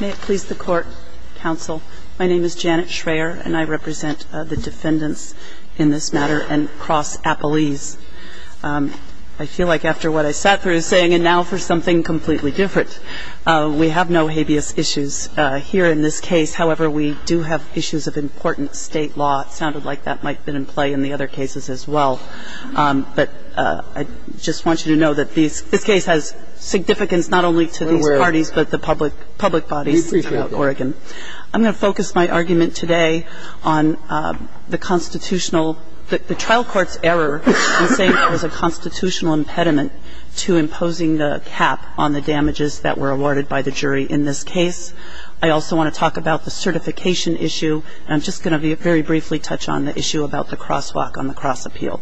May it please the Court, Counsel. My name is Janet Schreyer, and I represent the defendants in this matter and cross-appellees. I feel like after what I sat through saying, and now for something completely different. We have no habeas issues here in this case. However, we do have issues of important state law. It sounded like that might have been in play in the other cases as well. But I just want you to know that this case has significance not only to these parties, but the public bodies throughout Oregon. I'm going to focus my argument today on the constitutional, the trial court's error in saying there was a constitutional impediment to imposing the cap on the damages that were awarded by the jury in this case. I also want to talk about the certification issue. And I'm just going to very briefly touch on the issue about the crosswalk on the cross-appeal.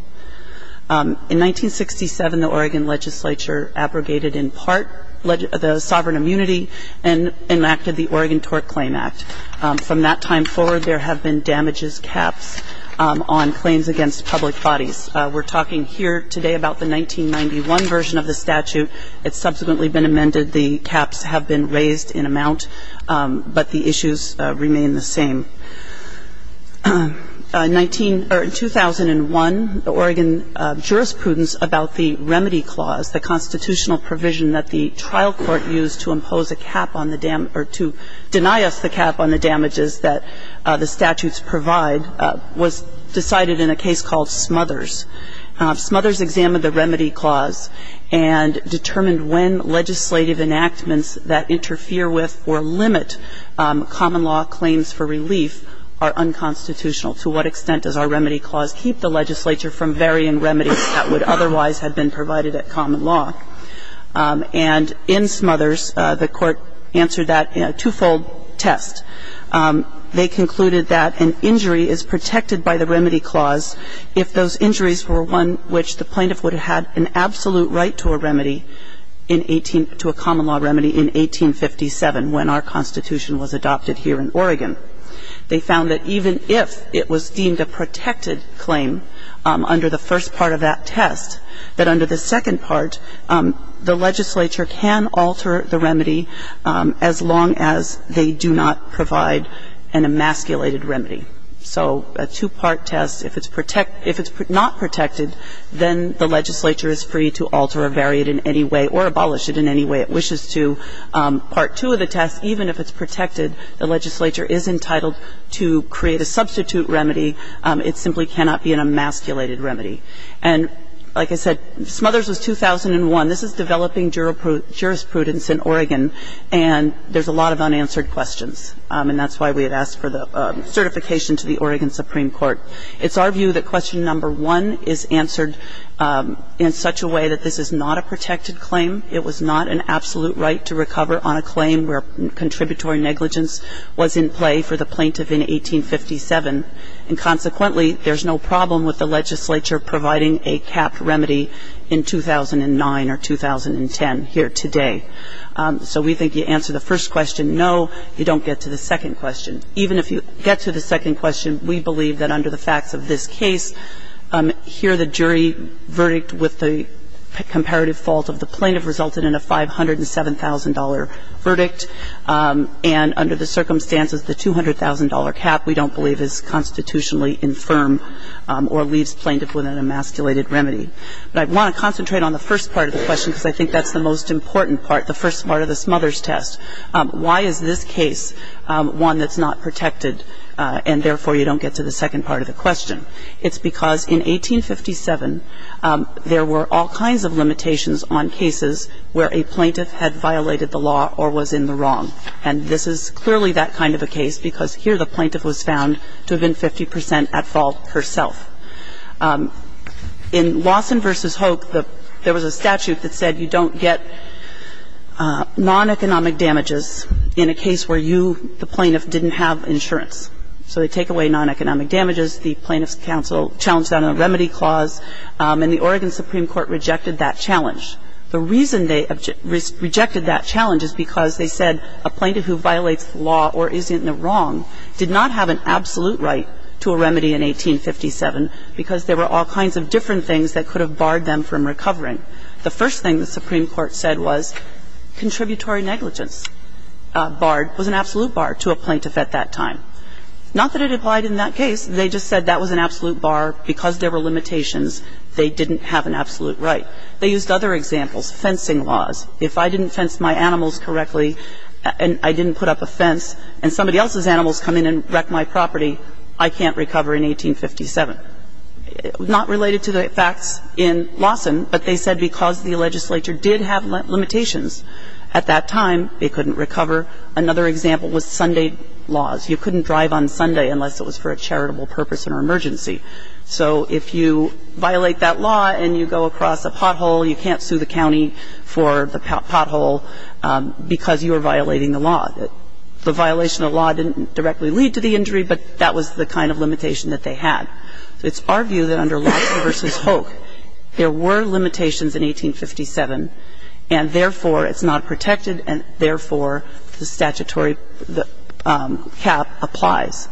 In 1967, the Oregon legislature abrogated in part the sovereign immunity and enacted the Oregon Tort Claim Act. From that time forward, there have been damages caps on claims against public bodies. We're talking here today about the 1991 version of the statute. It's subsequently been amended. The caps have been raised in amount, but the issues remain the same. In 2001, the Oregon jurisprudence about the remedy clause, the constitutional provision that the trial court used to impose a cap on the damage or to deny us the cap on the damages that the statutes provide, was decided in a case called Smothers. Smothers examined the remedy clause and determined when legislative enactments that interfere with or limit common law claims for relief are unconstitutional. To what extent does our remedy clause keep the legislature from varying remedies that would otherwise have been provided at common law? And in Smothers, the court answered that in a twofold test. They concluded that an injury is protected by the remedy clause if those injuries were one which the plaintiff would have had an absolute right to a remedy in 18 to a common law remedy in 1857 when our Constitution was adopted here in Oregon. They found that even if it was deemed a protected claim under the first part of that test, that under the second part, the legislature can alter the remedy as long as they do not provide an emasculated remedy. So a two-part test, if it's not protected, then the legislature is free to alter or vary it in any way or abolish it in any way it wishes to. Part two of the test, even if it's protected, the legislature is entitled to create a substitute remedy. It simply cannot be an emasculated remedy. And like I said, Smothers was 2001. This is developing jurisprudence in Oregon, and there's a lot of unanswered questions. And that's why we had asked for the certification to the Oregon Supreme Court. It's our view that question number one is answered in such a way that this is not a protected claim. It was not an absolute right to recover on a claim where contributory negligence was in play for the plaintiff in 1857. And consequently, there's no problem with the legislature providing a capped remedy in 2009 or 2010 here today. So we think you answer the first question, no, you don't get to the second question. Even if you get to the second question, we believe that under the facts of this case, here the jury verdict with the comparative fault of the plaintiff resulted in a $507,000 verdict. And under the circumstances, the $200,000 cap we don't believe is constitutionally infirm or leaves plaintiff with an emasculated remedy. But I want to concentrate on the first part of the question because I think that's the most important part, the first part of the Smothers test. Why is this case one that's not protected, and therefore you don't get to the second part of the question? It's because in 1857, there were all kinds of limitations on cases where a plaintiff had violated the law or was in the wrong. And this is clearly that kind of a case because here the plaintiff was found to have been 50 percent at fault herself. In Lawson v. Hoke, there was a statute that said you don't get non-economic damages in a case where you, the plaintiff, didn't have insurance. So they take away non-economic damages. The plaintiff's counsel challenged that on a remedy clause, and the Oregon Supreme Court rejected that challenge. The reason they rejected that challenge is because they said a plaintiff who violates the law or is in the wrong did not have an absolute right to a remedy in 1857 because there were all kinds of different things that could have barred them from recovering. The first thing the Supreme Court said was contributory negligence barred was an absolute bar to a plaintiff at that time. Not that it applied in that case. They just said that was an absolute bar because there were limitations. They didn't have an absolute right. They used other examples, fencing laws. If I didn't fence my animals correctly and I didn't put up a fence and somebody else's animals come in and wreck my property, I can't recover in 1857. Not related to the facts in Lawson, but they said because the legislature did have limitations at that time, they couldn't recover. Another example was Sunday laws. You couldn't drive on Sunday unless it was for a charitable purpose or emergency. So if you violate that law and you go across a pothole, you can't sue the county for the pothole because you are violating the law. The violation of the law didn't directly lead to the injury, but that was the kind of limitation that they had. It's our view that under Lawson v. Hoek, there were limitations in 1857, and therefore, it's not protected, and therefore, the statutory cap applies.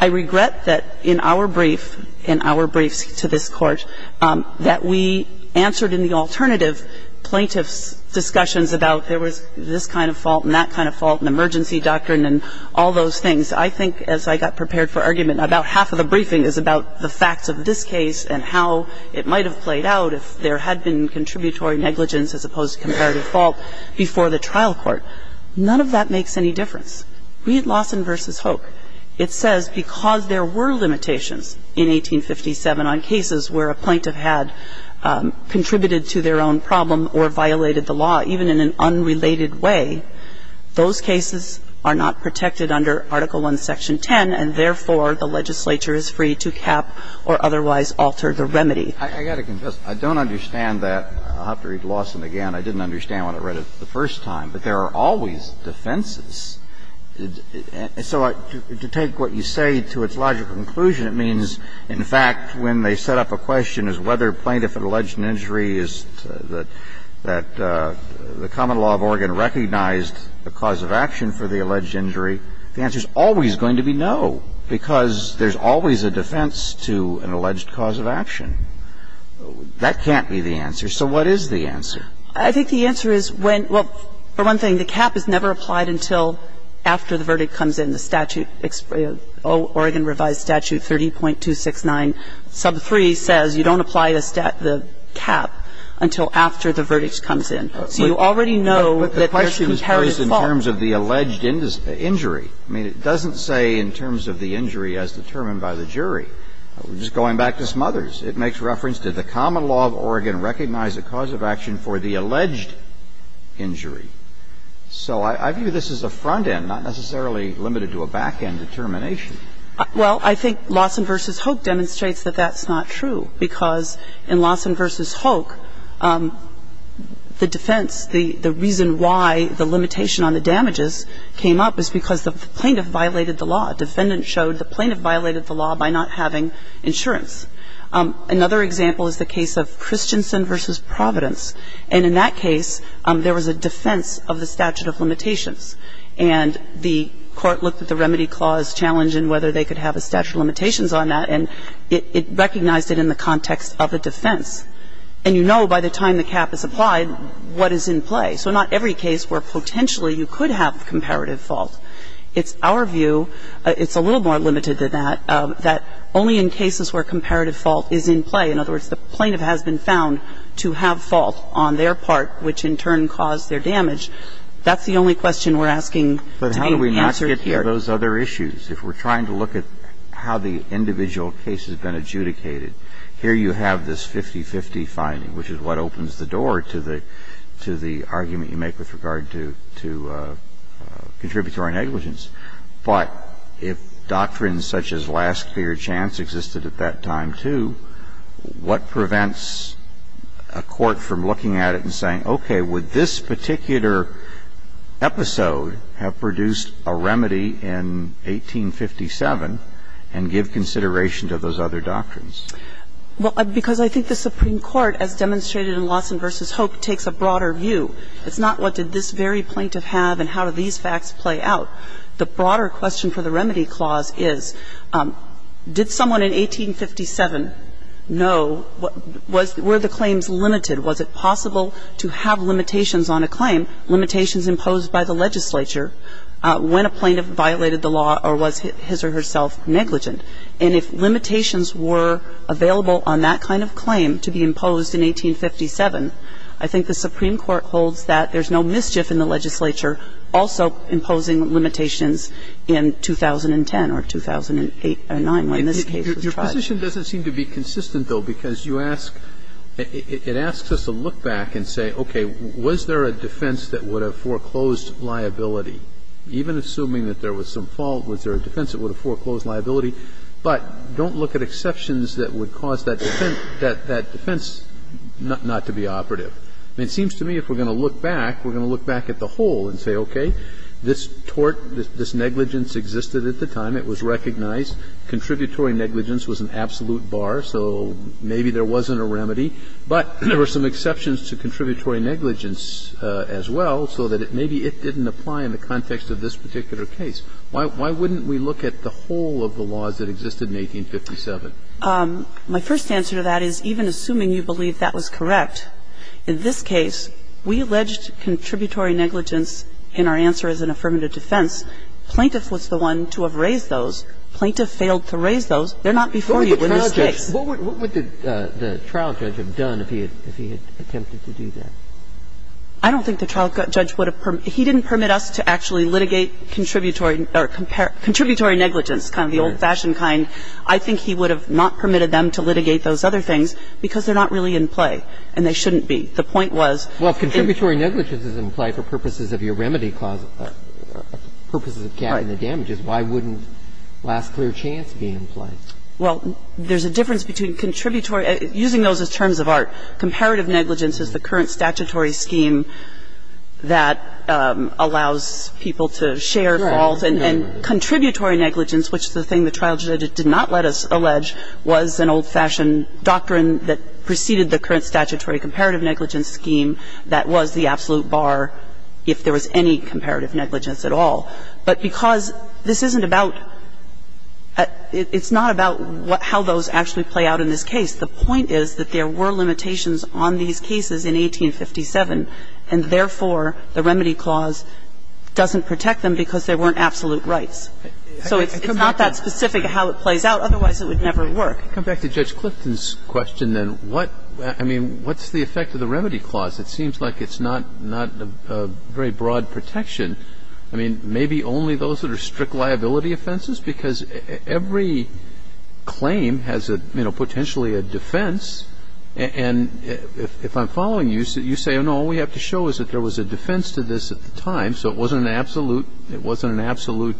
I regret that in our brief, in our briefs to this Court, that we answered in the alternative plaintiff's discussions about there was this kind of fault and that kind of fault and emergency doctrine and all those things. I think as I got prepared for argument, about half of the briefing is about the facts of this case and how it might have played out if there had been contributory negligence as opposed to comparative fault before the trial court. None of that makes any difference. Read Lawson v. Hoek. It says because there were limitations in 1857 on cases where a plaintiff had contributed to their own problem or violated the law, even in an unrelated way, those cases are not protected under Article I, Section 10, and therefore, the legislature is free to cap or otherwise alter the remedy. I got to confess, I don't understand that. I'll have to read Lawson again. I didn't understand when I read it the first time. But there are always defenses. And so to take what you say to its logical conclusion, it means, in fact, when they set up a question as whether a plaintiff had alleged an injury is that the common law of Oregon recognized the cause of action for the alleged injury, the answer is always going to be no, because there's always a defense to an alleged cause of action. That can't be the answer. So what is the answer? I think the answer is when – well, for one thing, the cap is never applied until after the verdict comes in. The statute, Oregon Revised Statute 30.269, sub 3, says you don't apply the cap until after the verdict comes in. So you already know that there's comparative fault. But the question is raised in terms of the alleged injury. I mean, it doesn't say in terms of the injury as determined by the jury. It's going back to Smothers. It makes reference to the common law of Oregon recognized the cause of action for the alleged injury. So I view this as a front end, not necessarily limited to a back end determination. Well, I think Lawson v. Hoek demonstrates that that's not true, because in Lawson v. Hoek, the defense, the reason why the limitation on the damages came up is because the plaintiff violated the law. A defendant showed the plaintiff violated the law by not having insurance. Another example is the case of Christensen v. Providence. And in that case, there was a defense of the statute of limitations. And the court looked at the remedy clause challenge and whether they could have a statute of limitations on that, and it recognized it in the context of a defense. And you know by the time the cap is applied what is in play. So not every case where potentially you could have comparative fault. It's our view, it's a little more limited than that, that only in cases where comparative fault is in play. In other words, the plaintiff has been found to have fault on their part, which in turn caused their damage. That's the only question we're asking to be answered here. But how do we not get to those other issues? If we're trying to look at how the individual case has been adjudicated, here you have this 50-50 finding, which is what opens the door to the argument you make with regard to contributory negligence. But if doctrines such as last clear chance existed at that time, too, what prevents a court from looking at it and saying, okay, would this particular episode have produced a remedy in 1857 and give consideration to those other doctrines? Well, because I think the Supreme Court, as demonstrated in Lawson v. Hope, takes a broader view. It's not what did this very plaintiff have and how do these facts play out. The broader question for the remedy clause is did someone in 1857 know, were the claims limited? Was it possible to have limitations on a claim, limitations imposed by the legislature when a plaintiff violated the law or was his or herself negligent? And if limitations were available on that kind of claim to be imposed in 1857, I think the Supreme Court holds that there's no mischief in the legislature also imposing limitations in 2010 or 2008 or 2009 when this case was tried. Your position doesn't seem to be consistent, though, because you ask – it asks us to look back and say, okay, was there a defense that would have foreclosed liability? Even assuming that there was some fault, was there a defense that would have foreclosed liability? But don't look at exceptions that would cause that defense not to be operative. It seems to me if we're going to look back, we're going to look back at the whole and say, okay, this tort, this negligence existed at the time, it was recognized. Contributory negligence was an absolute bar, so maybe there wasn't a remedy. But there were some exceptions to contributory negligence as well, so that maybe it didn't apply in the context of this particular case. Why wouldn't we look at the whole of the laws that existed in 1857? My first answer to that is, even assuming you believe that was correct, in this case, we alleged contributory negligence in our answer as an affirmative defense. Plaintiff was the one to have raised those. Plaintiff failed to raise those. They're not before you. They're mistakes. What would the trial judge have done if he had attempted to do that? I don't think the trial judge would have – he didn't permit us to actually litigate contributory – or contributory negligence, kind of the old-fashioned kind. I think he would have not permitted them to litigate those other things because they're not really in play, and they shouldn't be. The point was they – Well, if contributory negligence is in play for purposes of your remedy cause – purposes of getting the damages, why wouldn't last clear chance be in play? Well, there's a difference between contributory – using those as terms of art. Comparative negligence is the current statutory scheme that allows people to share faults, and contributory negligence, which is the thing the trial judge did not let us allege, was an old-fashioned doctrine that preceded the current statutory comparative negligence scheme that was the absolute bar if there was any comparative negligence at all. But because this isn't about – it's not about how those actually play out in this case, the point is that there were limitations on these cases in 1857, and therefore the remedy clause doesn't protect them because there weren't absolute rights. So it's not that specific how it plays out, otherwise it would never work. Come back to Judge Clifton's question, then. What – I mean, what's the effect of the remedy clause? It seems like it's not a very broad protection. I mean, maybe only those that are strict liability offenses, because every claim has a, you know, potentially a defense. And if I'm following you, you say, oh, no, all we have to show is that there was a defense to this at the time, so it wasn't an absolute – it wasn't an absolute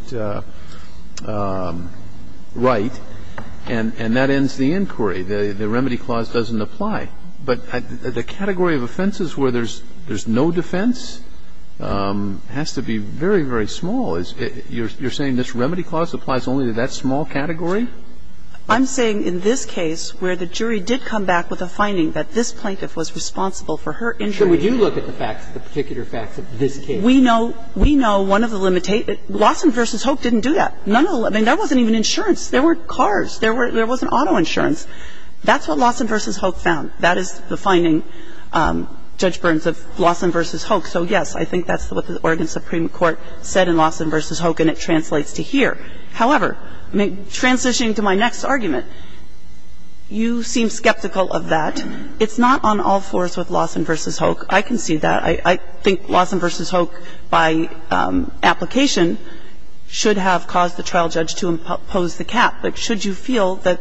right. And that ends the inquiry. The remedy clause doesn't apply. But the category of offenses where there's no defense has to be very, very small. You're saying this remedy clause applies only to that small category? I'm saying in this case where the jury did come back with a finding that this plaintiff was responsible for her injury. So we do look at the facts, the particular facts of this case. We know – we know one of the limitations – Lawson v. Hoke didn't do that. None of the – I mean, there wasn't even insurance. There were cars. There wasn't auto insurance. That's what Lawson v. Hoke found. That is the finding, Judge Burns, of Lawson v. Hoke. So, yes, I think that's what the Oregon Supreme Court said in Lawson v. Hoke, and it translates to here. However, transitioning to my next argument, you seem skeptical of that. It's not on all fours with Lawson v. Hoke. I can see that. I think Lawson v. Hoke, by application, should have caused the trial judge to impose the cap. But should you feel that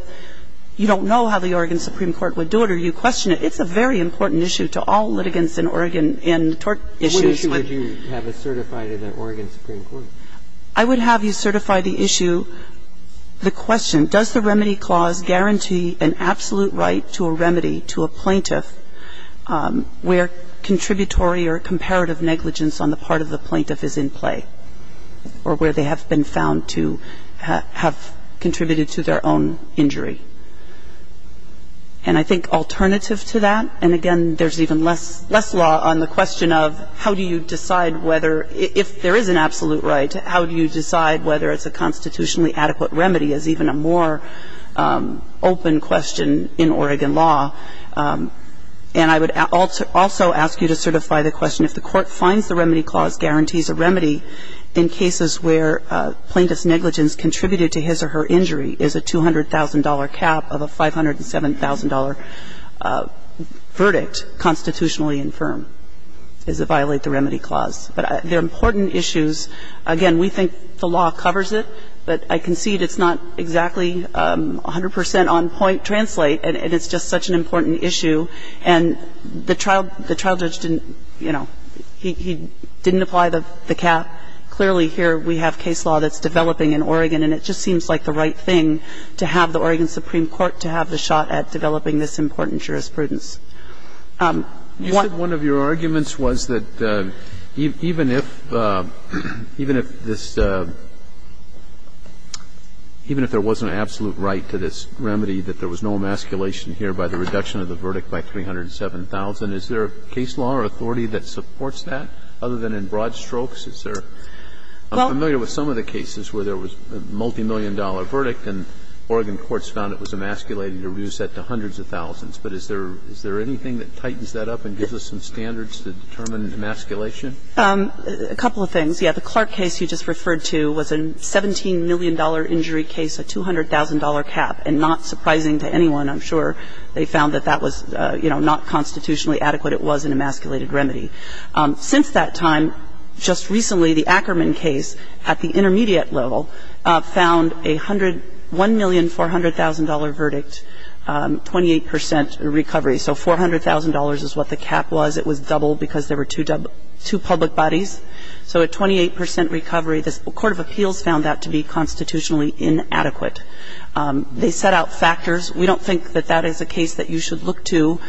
you don't know how the Oregon Supreme Court would do it or you question it, it's a very important issue to all litigants in Oregon in tort issues. But what issue would you have us certify to the Oregon Supreme Court? I would have you certify the issue, the question, does the remedy clause guarantee an absolute right to a remedy to a plaintiff where contributory or comparative negligence on the part of the plaintiff is in play or where they have been found to have contributed to their own injury? And I think alternative to that, and again, there's even less law on the question of how do you decide whether, if there is an absolute right, how do you decide whether it's a constitutionally adequate remedy is even a more open question in Oregon law. And I would also ask you to certify the question, if the court finds the remedy clause guarantees a remedy in cases where plaintiff's negligence contributed to his or her injury is a $200,000 cap of a $507,000 verdict constitutionally infirm, does it violate the remedy clause? But they're important issues. Again, we think the law covers it, but I concede it's not exactly 100 percent on point translate, and it's just such an important issue. And the trial judge didn't, you know, he didn't apply the cap. Clearly, here we have case law that's developing in Oregon, and it just seems like the right thing to have the Oregon Supreme Court to have the shot at developing this important jurisprudence. You said one of your arguments was that even if this, even if there was an absolute right to this remedy, that there was no emasculation here by the reduction of the verdict by $307,000. Is there a case law or authority that supports that, other than in broad strokes? Is there? I'm familiar with some of the cases where there was a multimillion-dollar $17 million injury case, a $200,000 cap, and not surprising to anyone, I'm sure, they found that that was, you know, not constitutionally adequate. It was an emasculated remedy. Since that time, just recently, the Ackerman case, at the intermediate It was an emasculated remedy. $1,400,000 verdict, 28 percent recovery. So $400,000 is what the cap was. It was doubled because there were two public bodies. So a 28 percent recovery. The court of appeals found that to be constitutionally inadequate. They set out factors. We don't think that that is a case that you should look to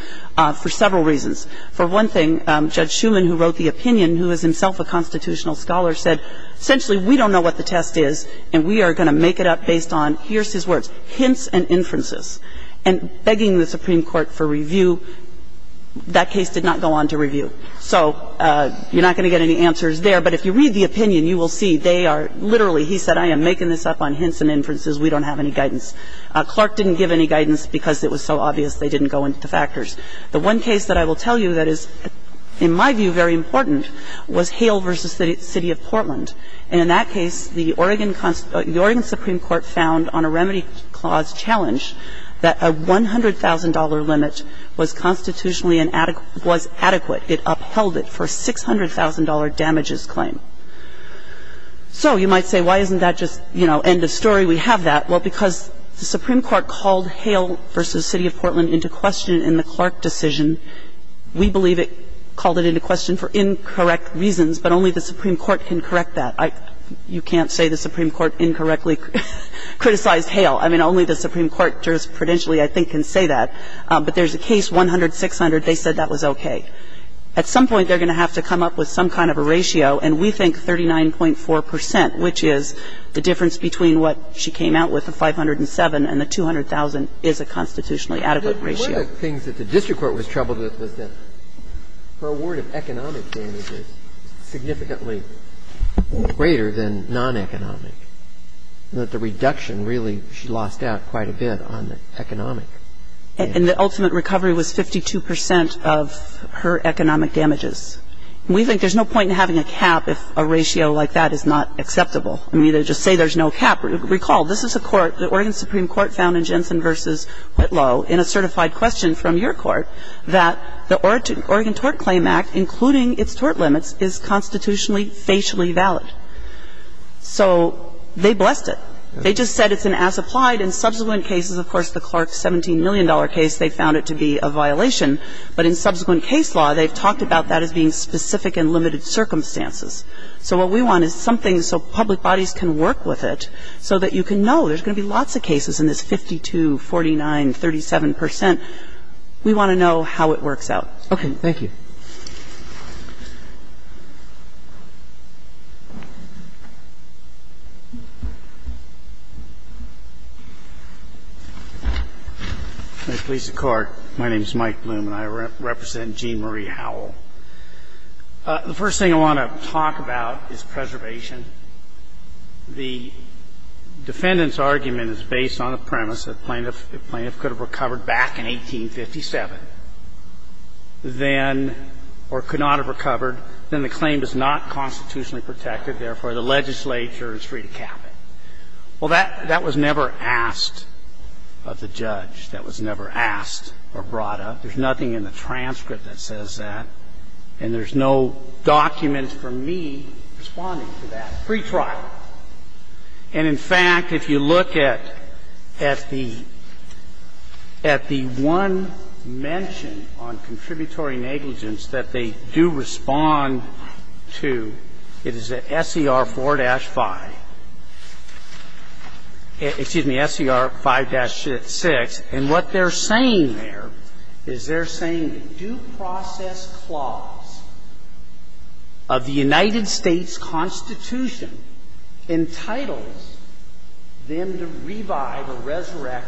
for several reasons. For one thing, Judge Schuman, who wrote the opinion, who is himself a constitutional scholar, said, essentially, we don't know what the test is, and we are going to make it up based on, here's his words, hints and inferences. And begging the Supreme Court for review, that case did not go on to review. So you're not going to get any answers there, but if you read the opinion, you will see they are literally, he said, I am making this up on hints and inferences. We don't have any guidance. Clark didn't give any guidance because it was so obvious they didn't go into factors. The one case that I will tell you that is, in my view, very important was Hale v. City of Portland. And in that case, the Oregon Supreme Court found on a remedy clause challenge that a $100,000 limit was constitutionally inadequate, was adequate. It upheld it for a $600,000 damages claim. So you might say, why isn't that just, you know, end of story? We have that. Well, because the Supreme Court called Hale v. City of Portland into question in the Clark decision. We believe it called it into question for incorrect reasons, but only the Supreme Court can correct that. You can't say the Supreme Court incorrectly criticized Hale. I mean, only the Supreme Court jurisprudentially, I think, can say that. But there's a case, $100,000, $600,000, they said that was okay. At some point, they're going to have to come up with some kind of a ratio, and we think 39.4 percent, which is the difference between what she came out with, the $507,000, and the $200,000 is a constitutionally adequate ratio. The other thing that the district court was troubled with was that her award of economic damages is significantly greater than non-economic, and that the reduction really, she lost out quite a bit on the economic. And the ultimate recovery was 52 percent of her economic damages. We think there's no point in having a cap if a ratio like that is not acceptable. I mean, either just say there's no cap. Recall, this is a court, the Oregon Supreme Court found in Jensen v. Whitlow, in a certified question from your court, that the Oregon Tort Claim Act, including its tort limits, is constitutionally facially valid. So they blessed it. They just said it's an as-applied. In subsequent cases, of course, the Clark $17 million case, they found it to be a violation. But in subsequent case law, they've talked about that as being specific in limited circumstances. So what we want is something so public bodies can work with it so that you can know there's going to be lots of cases in this 52, 49, 37 percent. We want to know how it works out. Okay. Thank you. Mr. Lisa Clark. My name is Mike Bloom, and I represent Jean Marie Howell. The first thing I want to talk about is preservation. The defendant's argument is based on the premise that the plaintiff could have recovered back in 1857, then or could not have recovered, then the claim is not constitutionally protected, therefore, the legislature is free to cap it. Well, that was never asked of the judge. That was never asked or brought up. There's nothing in the transcript that says that. And there's no document for me responding to that pretrial. And, in fact, if you look at the one mention on contributory negligence that they do respond to, it is at SCR 4-5. Excuse me, SCR 5-6. And what they're saying there is they're saying the due process clause of the United States Constitution entitles them to revive or resurrect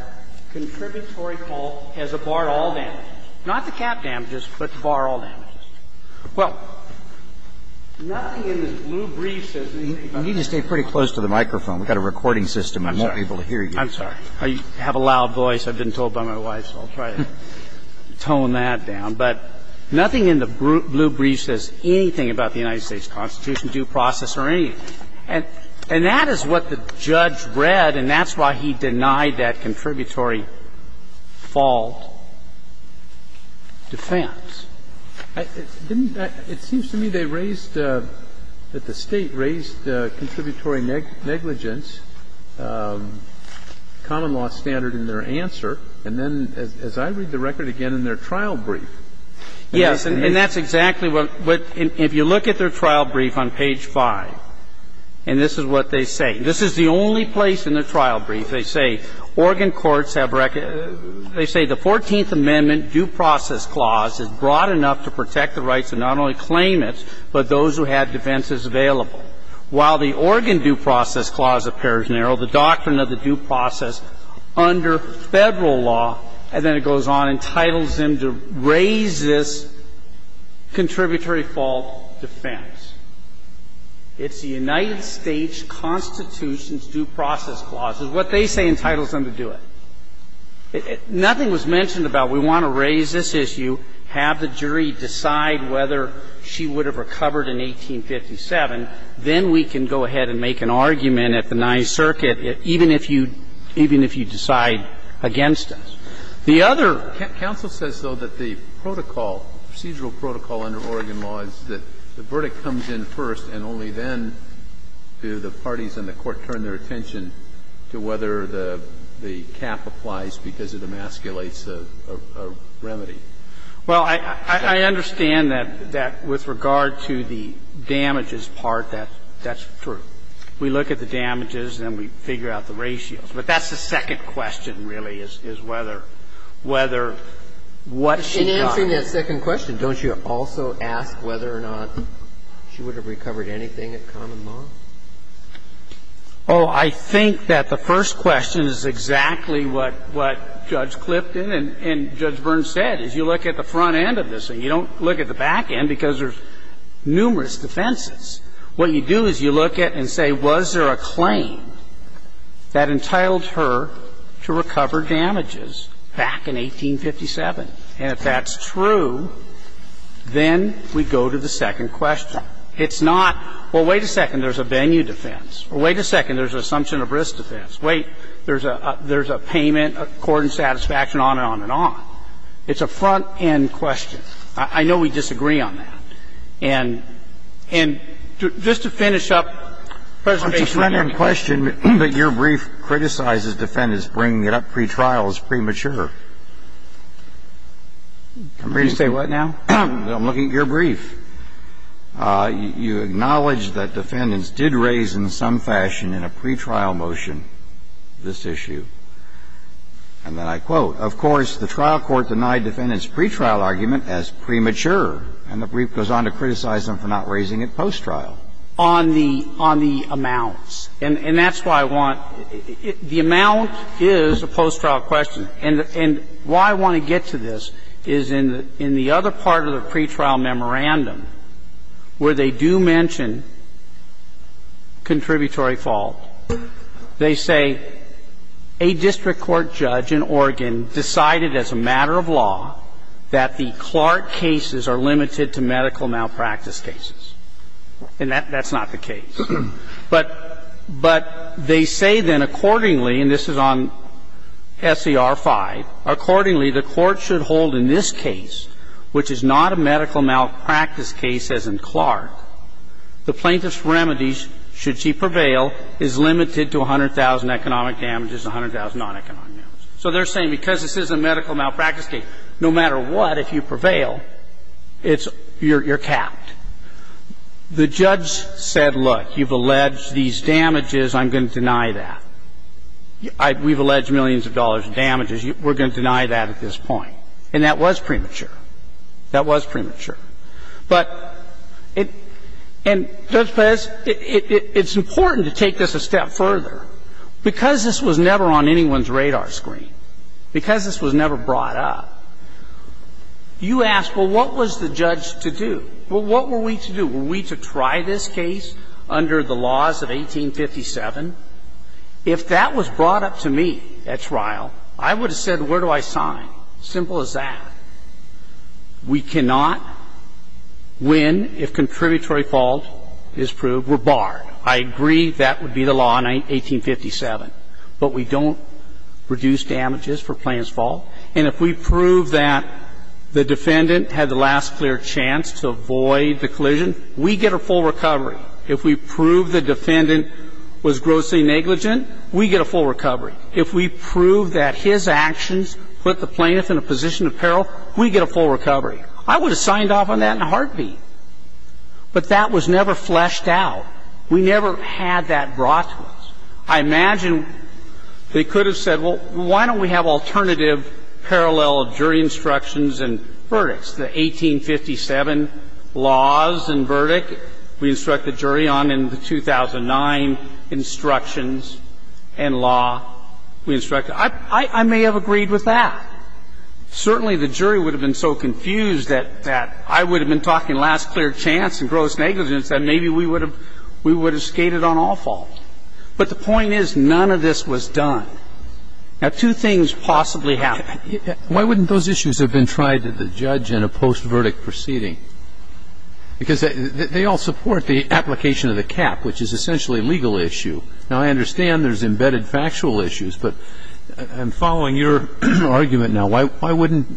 contributory fault as a bar all damages, not the cap damages, but the bar all damages. Well, nothing in the blue brief says that. You need to stay pretty close to the microphone. We've got a recording system. I won't be able to hear you. I'm sorry. I have a loud voice. I've been told by my wife, so I'll try to tone that down. But nothing in the blue brief says anything about the United States Constitution, due process, or anything. And that is what the judge read, and that's why he denied that contributory fault defense. It seems to me they raised, that the State raised the contributory negligence common law standard in their answer, and then, as I read the record again, in their trial brief. Yes, and that's exactly what, if you look at their trial brief on page 5, and this is what they say. This is the only place in their trial brief they say, Oregon courts have, they say the Fourteenth Amendment due process clause is broad enough to protect the rights of not only claimants, but those who had defenses available. While the Oregon due process clause appears narrow, the doctrine of the due process under Federal law, and then it goes on, entitles them to raise this contributory fault defense. It's the United States Constitution's due process clause. It's what they say entitles them to do it. Nothing was mentioned about we want to raise this issue, have the jury decide whether she would have recovered in 1857, then we can go ahead and make an argument at the Ninth Circuit, even if you decide against us. The other ---- Kennedy, counsel says, though, that the protocol, procedural protocol under Oregon law is that the verdict comes in first, and only then do the parties in the court turn their attention to whether the cap applies because it emasculates a remedy. Well, I understand that with regard to the damages part, that's true. We look at the damages, and then we figure out the ratios. But that's the second question, really, is whether what she got is the same. In answering that second question, don't you also ask whether or not she would have recovered anything at common law? Oh, I think that the first question is exactly what Judge Clifton and Judge Byrne said, is you look at the front end of this thing. You don't look at the back end because there's numerous defenses. What you do is you look at and say, was there a claim that entitled her to recover damages back in 1857? And if that's true, then we go to the second question. It's not, well, wait a second, there's a venue defense. Or wait a second, there's an assumption of risk defense. Wait, there's a payment according to satisfaction, on and on and on. It's a front-end question. I know we disagree on that. And just to finish up, President Gershengorn. I'm just rendering a question, but your brief criticizes defendants bringing it up pretrial as premature. I'm reading. You say what now? I'm looking at your brief. You acknowledge that defendants did raise in some fashion in a pretrial motion this issue. And then I quote, Of course, the trial court denied defendants' pretrial argument as premature. And the brief goes on to criticize them for not raising it post-trial. On the amounts. And that's why I want the amount is a post-trial question. And why I want to get to this is in the other part of the pretrial memorandum, where they do mention contributory fault. They say, A district court judge in Oregon decided as a matter of law that the Clark cases are limited to medical malpractice cases. And that's not the case. But they say then accordingly, and this is on SER 5, Accordingly, the court should hold in this case, which is not a medical malpractice case as in Clark, the plaintiff's remedies, should she prevail, is limited to 100,000 economic damages and 100,000 non-economic damages. So they're saying because this is a medical malpractice case, no matter what, if you prevail, it's you're capped. The judge said, look, you've alleged these damages. I'm going to deny that. We've alleged millions of dollars in damages. We're going to deny that at this point. And that was premature. That was premature. But, and Judge Pez, it's important to take this a step further. Because this was never on anyone's radar screen, because this was never brought up, you ask, well, what was the judge to do? Well, what were we to do? Were we to try this case under the laws of 1857? If that was brought up to me at trial, I would have said, where do I sign? Simple as that. We cannot win if contributory fault is proved. We're barred. I agree that would be the law in 1857. But we don't reduce damages for plaintiff's fault. And if we prove that the defendant had the last clear chance to avoid the collision, we get a full recovery. If we prove the defendant was grossly negligent, we get a full recovery. If we prove that his actions put the plaintiff in a position of peril, we get a full recovery. I would have signed off on that in a heartbeat. But that was never fleshed out. We never had that brought to us. I imagine they could have said, well, why don't we have alternative parallel jury instructions and verdicts, the 1857 laws and verdict we instruct the jury on in the 2009 instructions and law we instruct. I may have agreed with that. Certainly the jury would have been so confused that I would have been talking last clear chance and gross negligence that maybe we would have skated on all fault. But the point is none of this was done. Now, two things possibly happened. Why wouldn't those issues have been tried to the judge in a post-verdict proceeding? Because they all support the application of the cap, which is essentially a legal issue. Now, I understand there's embedded factual issues. But I'm following your argument now. Why wouldn't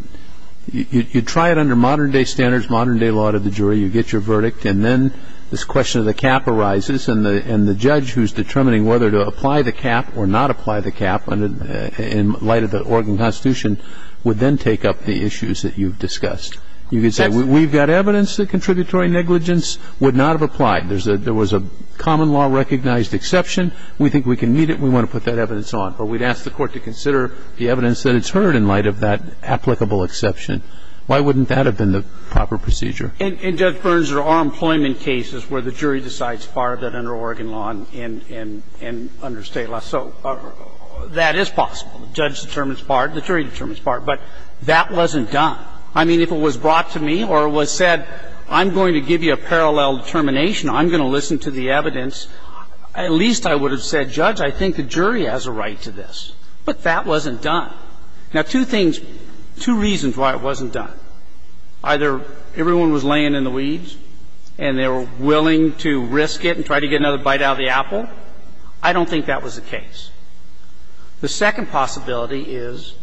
you try it under modern-day standards, modern-day law to the jury, you get your verdict, and then this question of the cap arises, and the judge who's determining whether to apply the cap or not apply the cap in light of the Oregon Constitution would then take up the issues that you've discussed. You could say we've got evidence that contributory negligence would not have applied. There was a common law recognized exception. We think we can meet it. We want to put that evidence on. But we'd ask the court to consider the evidence that it's heard in light of that applicable exception. Why wouldn't that have been the proper procedure? And, Judge Burns, there are employment cases where the jury decides to bar that under Oregon law and under state law. So that is possible. The judge determines to bar it. The jury determines to bar it. But that wasn't done. I mean, if it was brought to me or it was said, I'm going to give you a parallel determination, I'm going to listen to the evidence, at least I would have said, Judge, I think the jury has a right to this. But that wasn't done. Now, two things, two reasons why it wasn't done. Either everyone was laying in the weeds and they were willing to risk it and try to get another bite out of the apple. I don't think that was the case. The second possibility is,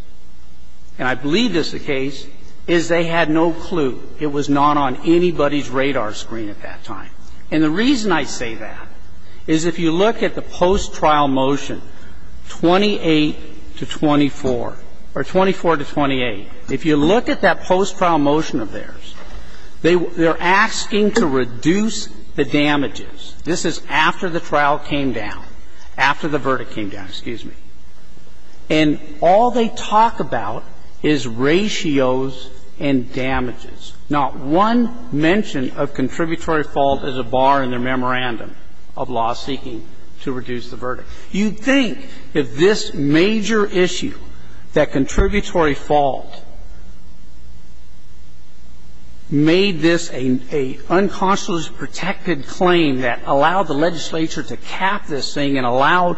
and I believe this is the case, is they had no clue. It was not on anybody's radar screen at that time. And the reason I say that is if you look at the post-trial motion, 28 to 24, or 24 to 28, if you look at that post-trial motion of theirs, they're asking to reduce the damages. This is after the trial came down, after the verdict came down, excuse me. And all they talk about is ratios and damages. Not one mention of contributory fault is a bar in their memorandum of law seeking to reduce the verdict. You'd think if this major issue, that contributory fault, made this an unconscious protected claim that allowed the legislature to cap this thing and allowed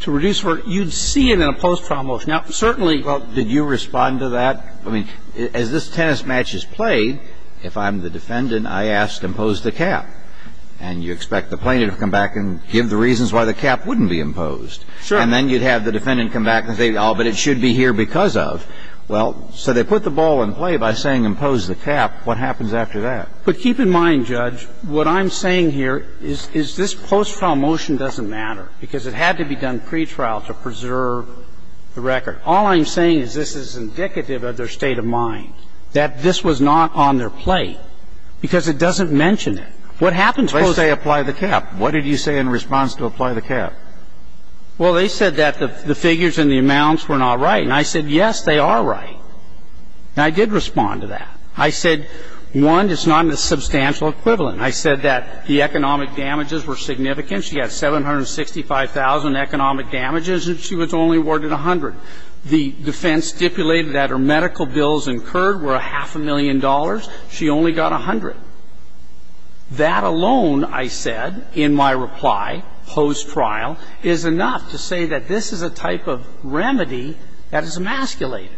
to reduce verdict, you'd see it in a post-trial motion. Now, certainly you'd think. Well, did you respond to that? I mean, as this tennis match is played, if I'm the defendant, I ask, impose the cap. And you expect the plaintiff to come back and give the reasons why the cap wouldn't be imposed. Sure. And then you'd have the defendant come back and say, oh, but it should be here because of. Well, so they put the ball in play by saying impose the cap. What happens after that? But keep in mind, Judge, what I'm saying here is this post-trial motion doesn't matter because it had to be done pretrial to preserve the record. All I'm saying is this is indicative of their state of mind, that this was not on their plate because it doesn't mention it. What happens post-trial? They say apply the cap. What did you say in response to apply the cap? Well, they said that the figures and the amounts were not right. And I said, yes, they are right. And I did respond to that. I said, one, it's not in the substantial equivalent. I said that the economic damages were significant. She had 765,000 economic damages, and she was only awarded 100. The defense stipulated that her medical bills incurred were a half a million dollars. She only got 100. That alone, I said in my reply post-trial, is enough to say that this is a type of remedy that is emasculated.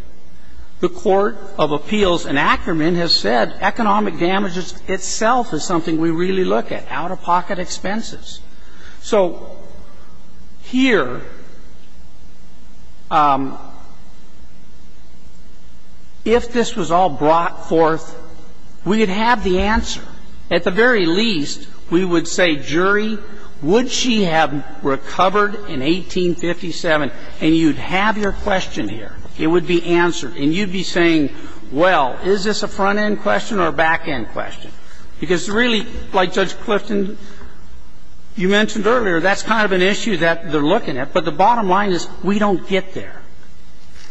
The Court of Appeals in Ackerman has said economic damages itself is something we really look at, out-of-pocket expenses. So here, if this was all brought forth, we would have the answer. At the very least, we would say, jury, would she have recovered in 1857? And you'd have your question here. It would be answered. And you'd be saying, well, is this a front-end question or a back-end question? Because really, like Judge Clifton, you mentioned earlier, that's kind of an issue that they're looking at. But the bottom line is we don't get there.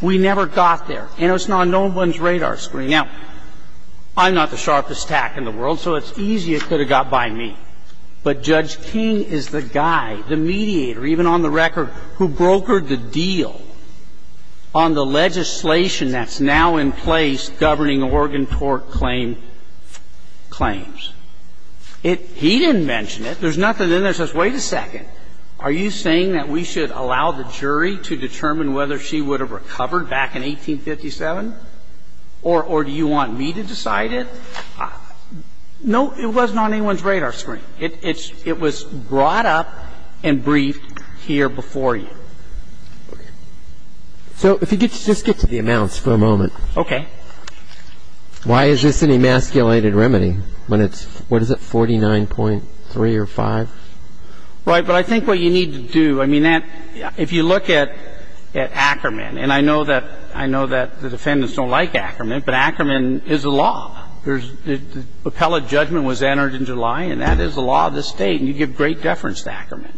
We never got there. And it's not on no one's radar screen. Now, I'm not the sharpest tack in the world, so it's easy it could have got by me. But Judge King is the guy, the mediator, even on the record, who brokered the deal on the legislation that's now in place governing Oregon tort claim claims. He didn't mention it. There's nothing in there that says, wait a second, are you saying that we should allow the jury to determine whether she would have recovered back in 1857? Or do you want me to decide it? No, it wasn't on anyone's radar screen. It was brought up and briefed here before you. So if you could just get to the amounts for a moment. Okay. Why is this an emasculated remedy when it's, what is it, 49.3 or 5? Right. But I think what you need to do, I mean, if you look at Ackerman, and I know that the defendants don't like Ackerman, but Ackerman is a law. The appellate judgment was entered in July, and that is the law of the State, and you give great deference to Ackerman.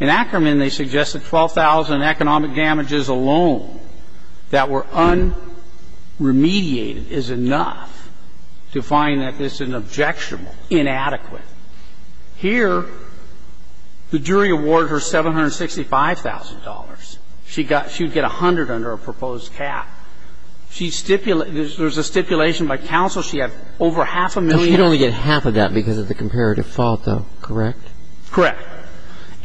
In Ackerman, they suggested 12,000 economic damages alone that were unremediated is enough to find that this is an objectionable, inadequate. Here, the jury awarded her $765,000. She got, she would get $100,000 under a proposed cap. She stipulated, there's a stipulation by counsel she had over half a million. If you'd only get half of that because of the comparative fault, though, correct? Correct.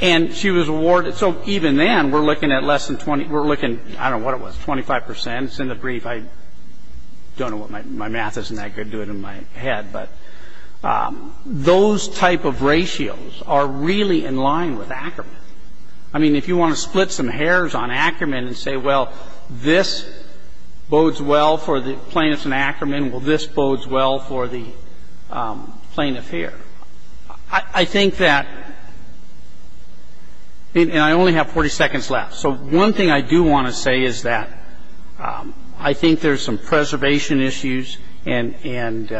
And she was awarded. So even then, we're looking at less than 20. We're looking, I don't know what it was, 25 percent. It's in the brief. I don't know what my math is, and I could do it in my head. But those type of ratios are really in line with Ackerman. I mean, if you want to split some hairs on Ackerman and say, well, this bodes well for the plaintiffs in Ackerman, well, this bodes well for the plaintiff here, I think that, and I only have 40 seconds left. So one thing I do want to say is that I think there's some preservation issues, and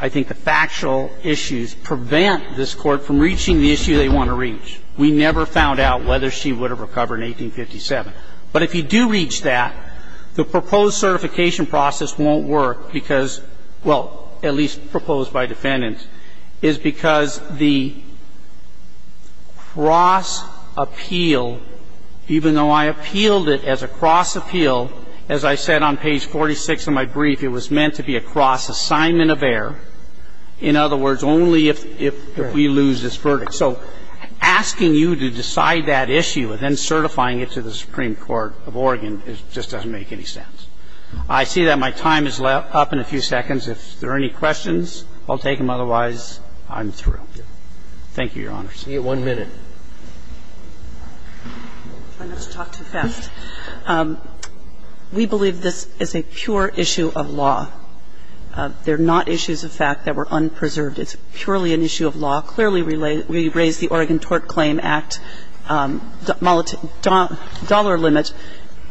I think the factual issues prevent this Court from reaching the issue they want to reach. We never found out whether she would have recovered in 1857. But if you do reach that, the proposed certification process won't work because It's a cross-assignment of error because, well, at least proposed by defendants, is because the cross-appeal, even though I appealed it as a cross-appeal, as I said on page 46 of my brief, it was meant to be a cross-assignment of error. In other words, only if we lose this verdict. So asking you to decide that issue and then certifying it to the Supreme Court of Oregon just doesn't make any sense. I see that my time is up in a few seconds. If there are any questions, I'll take them. Otherwise, I'm through. Thank you, Your Honors. We have one minute. I don't want to talk too fast. We believe this is a pure issue of law. It's purely an issue of law. Clearly, we raise the Oregon Tort Claim Act dollar limit.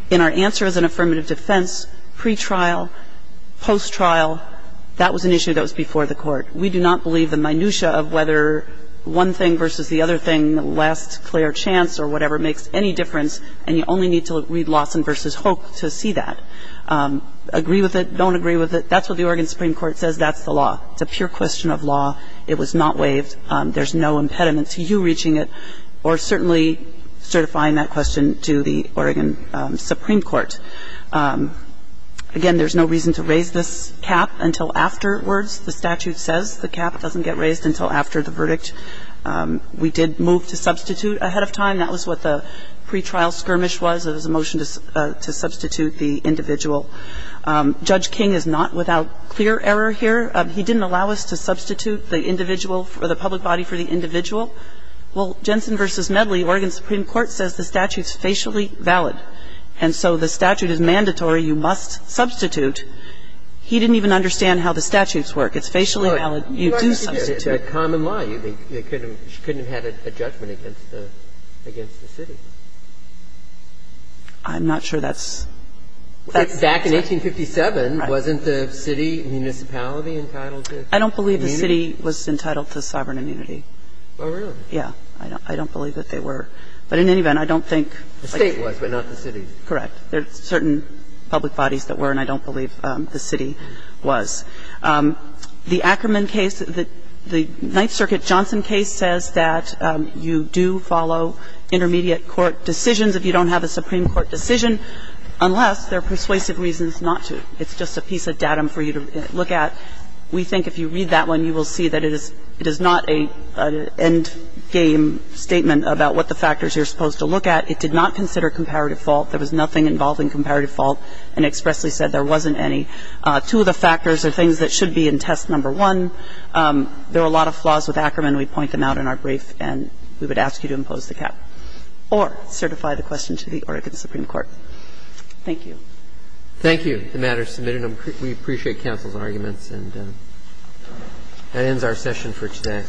And our answer is an affirmative defense, pretrial, post-trial. That was an issue that was before the Court. We do not believe the minutiae of whether one thing versus the other thing lasts a clear chance or whatever makes any difference. And you only need to read Lawson v. Hoek to see that. Agree with it, don't agree with it. That's what the Oregon Supreme Court says. That's the law. It's a pure question of law. It was not waived. There's no impediment to you reaching it or certainly certifying that question to the Oregon Supreme Court. Again, there's no reason to raise this cap until afterwards. The statute says the cap doesn't get raised until after the verdict. We did move to substitute ahead of time. That was what the pretrial skirmish was. It was a motion to substitute the individual. Judge King is not without clear error here. He didn't allow us to substitute the individual or the public body for the individual. Well, Jensen v. Medley, Oregon Supreme Court says the statute's facially valid, and so the statute is mandatory. You must substitute. He didn't even understand how the statutes work. It's facially valid. You do substitute. Breyer. It's a common law. I'm not sure that's the answer. Back in 1857, wasn't the city and municipality entitled to immunity? I don't believe the city was entitled to sovereign immunity. Oh, really? Yeah. I don't believe that they were. But in any event, I don't think the State was, but not the city. Correct. There are certain public bodies that were, and I don't believe the city was. The Ackerman case, the Ninth Circuit Johnson case says that you do follow intermediate court decisions if you don't have a Supreme Court decision, unless there are persuasive reasons not to. It's just a piece of datum for you to look at. We think if you read that one, you will see that it is not an endgame statement about what the factors you're supposed to look at. It did not consider comparative fault. There was nothing involving comparative fault, and expressly said there wasn't any. Two of the factors are things that should be in test number one. There were a lot of flaws with Ackerman. And so, either you would include the facts in the brief and then we point them out in our brief and we would ask you to impose the cap, or certify the question to the Oregon Supreme Court. Thank you. Thank you. The matter is submitted. We appreciate counsel's arguments. And that ends our session for today.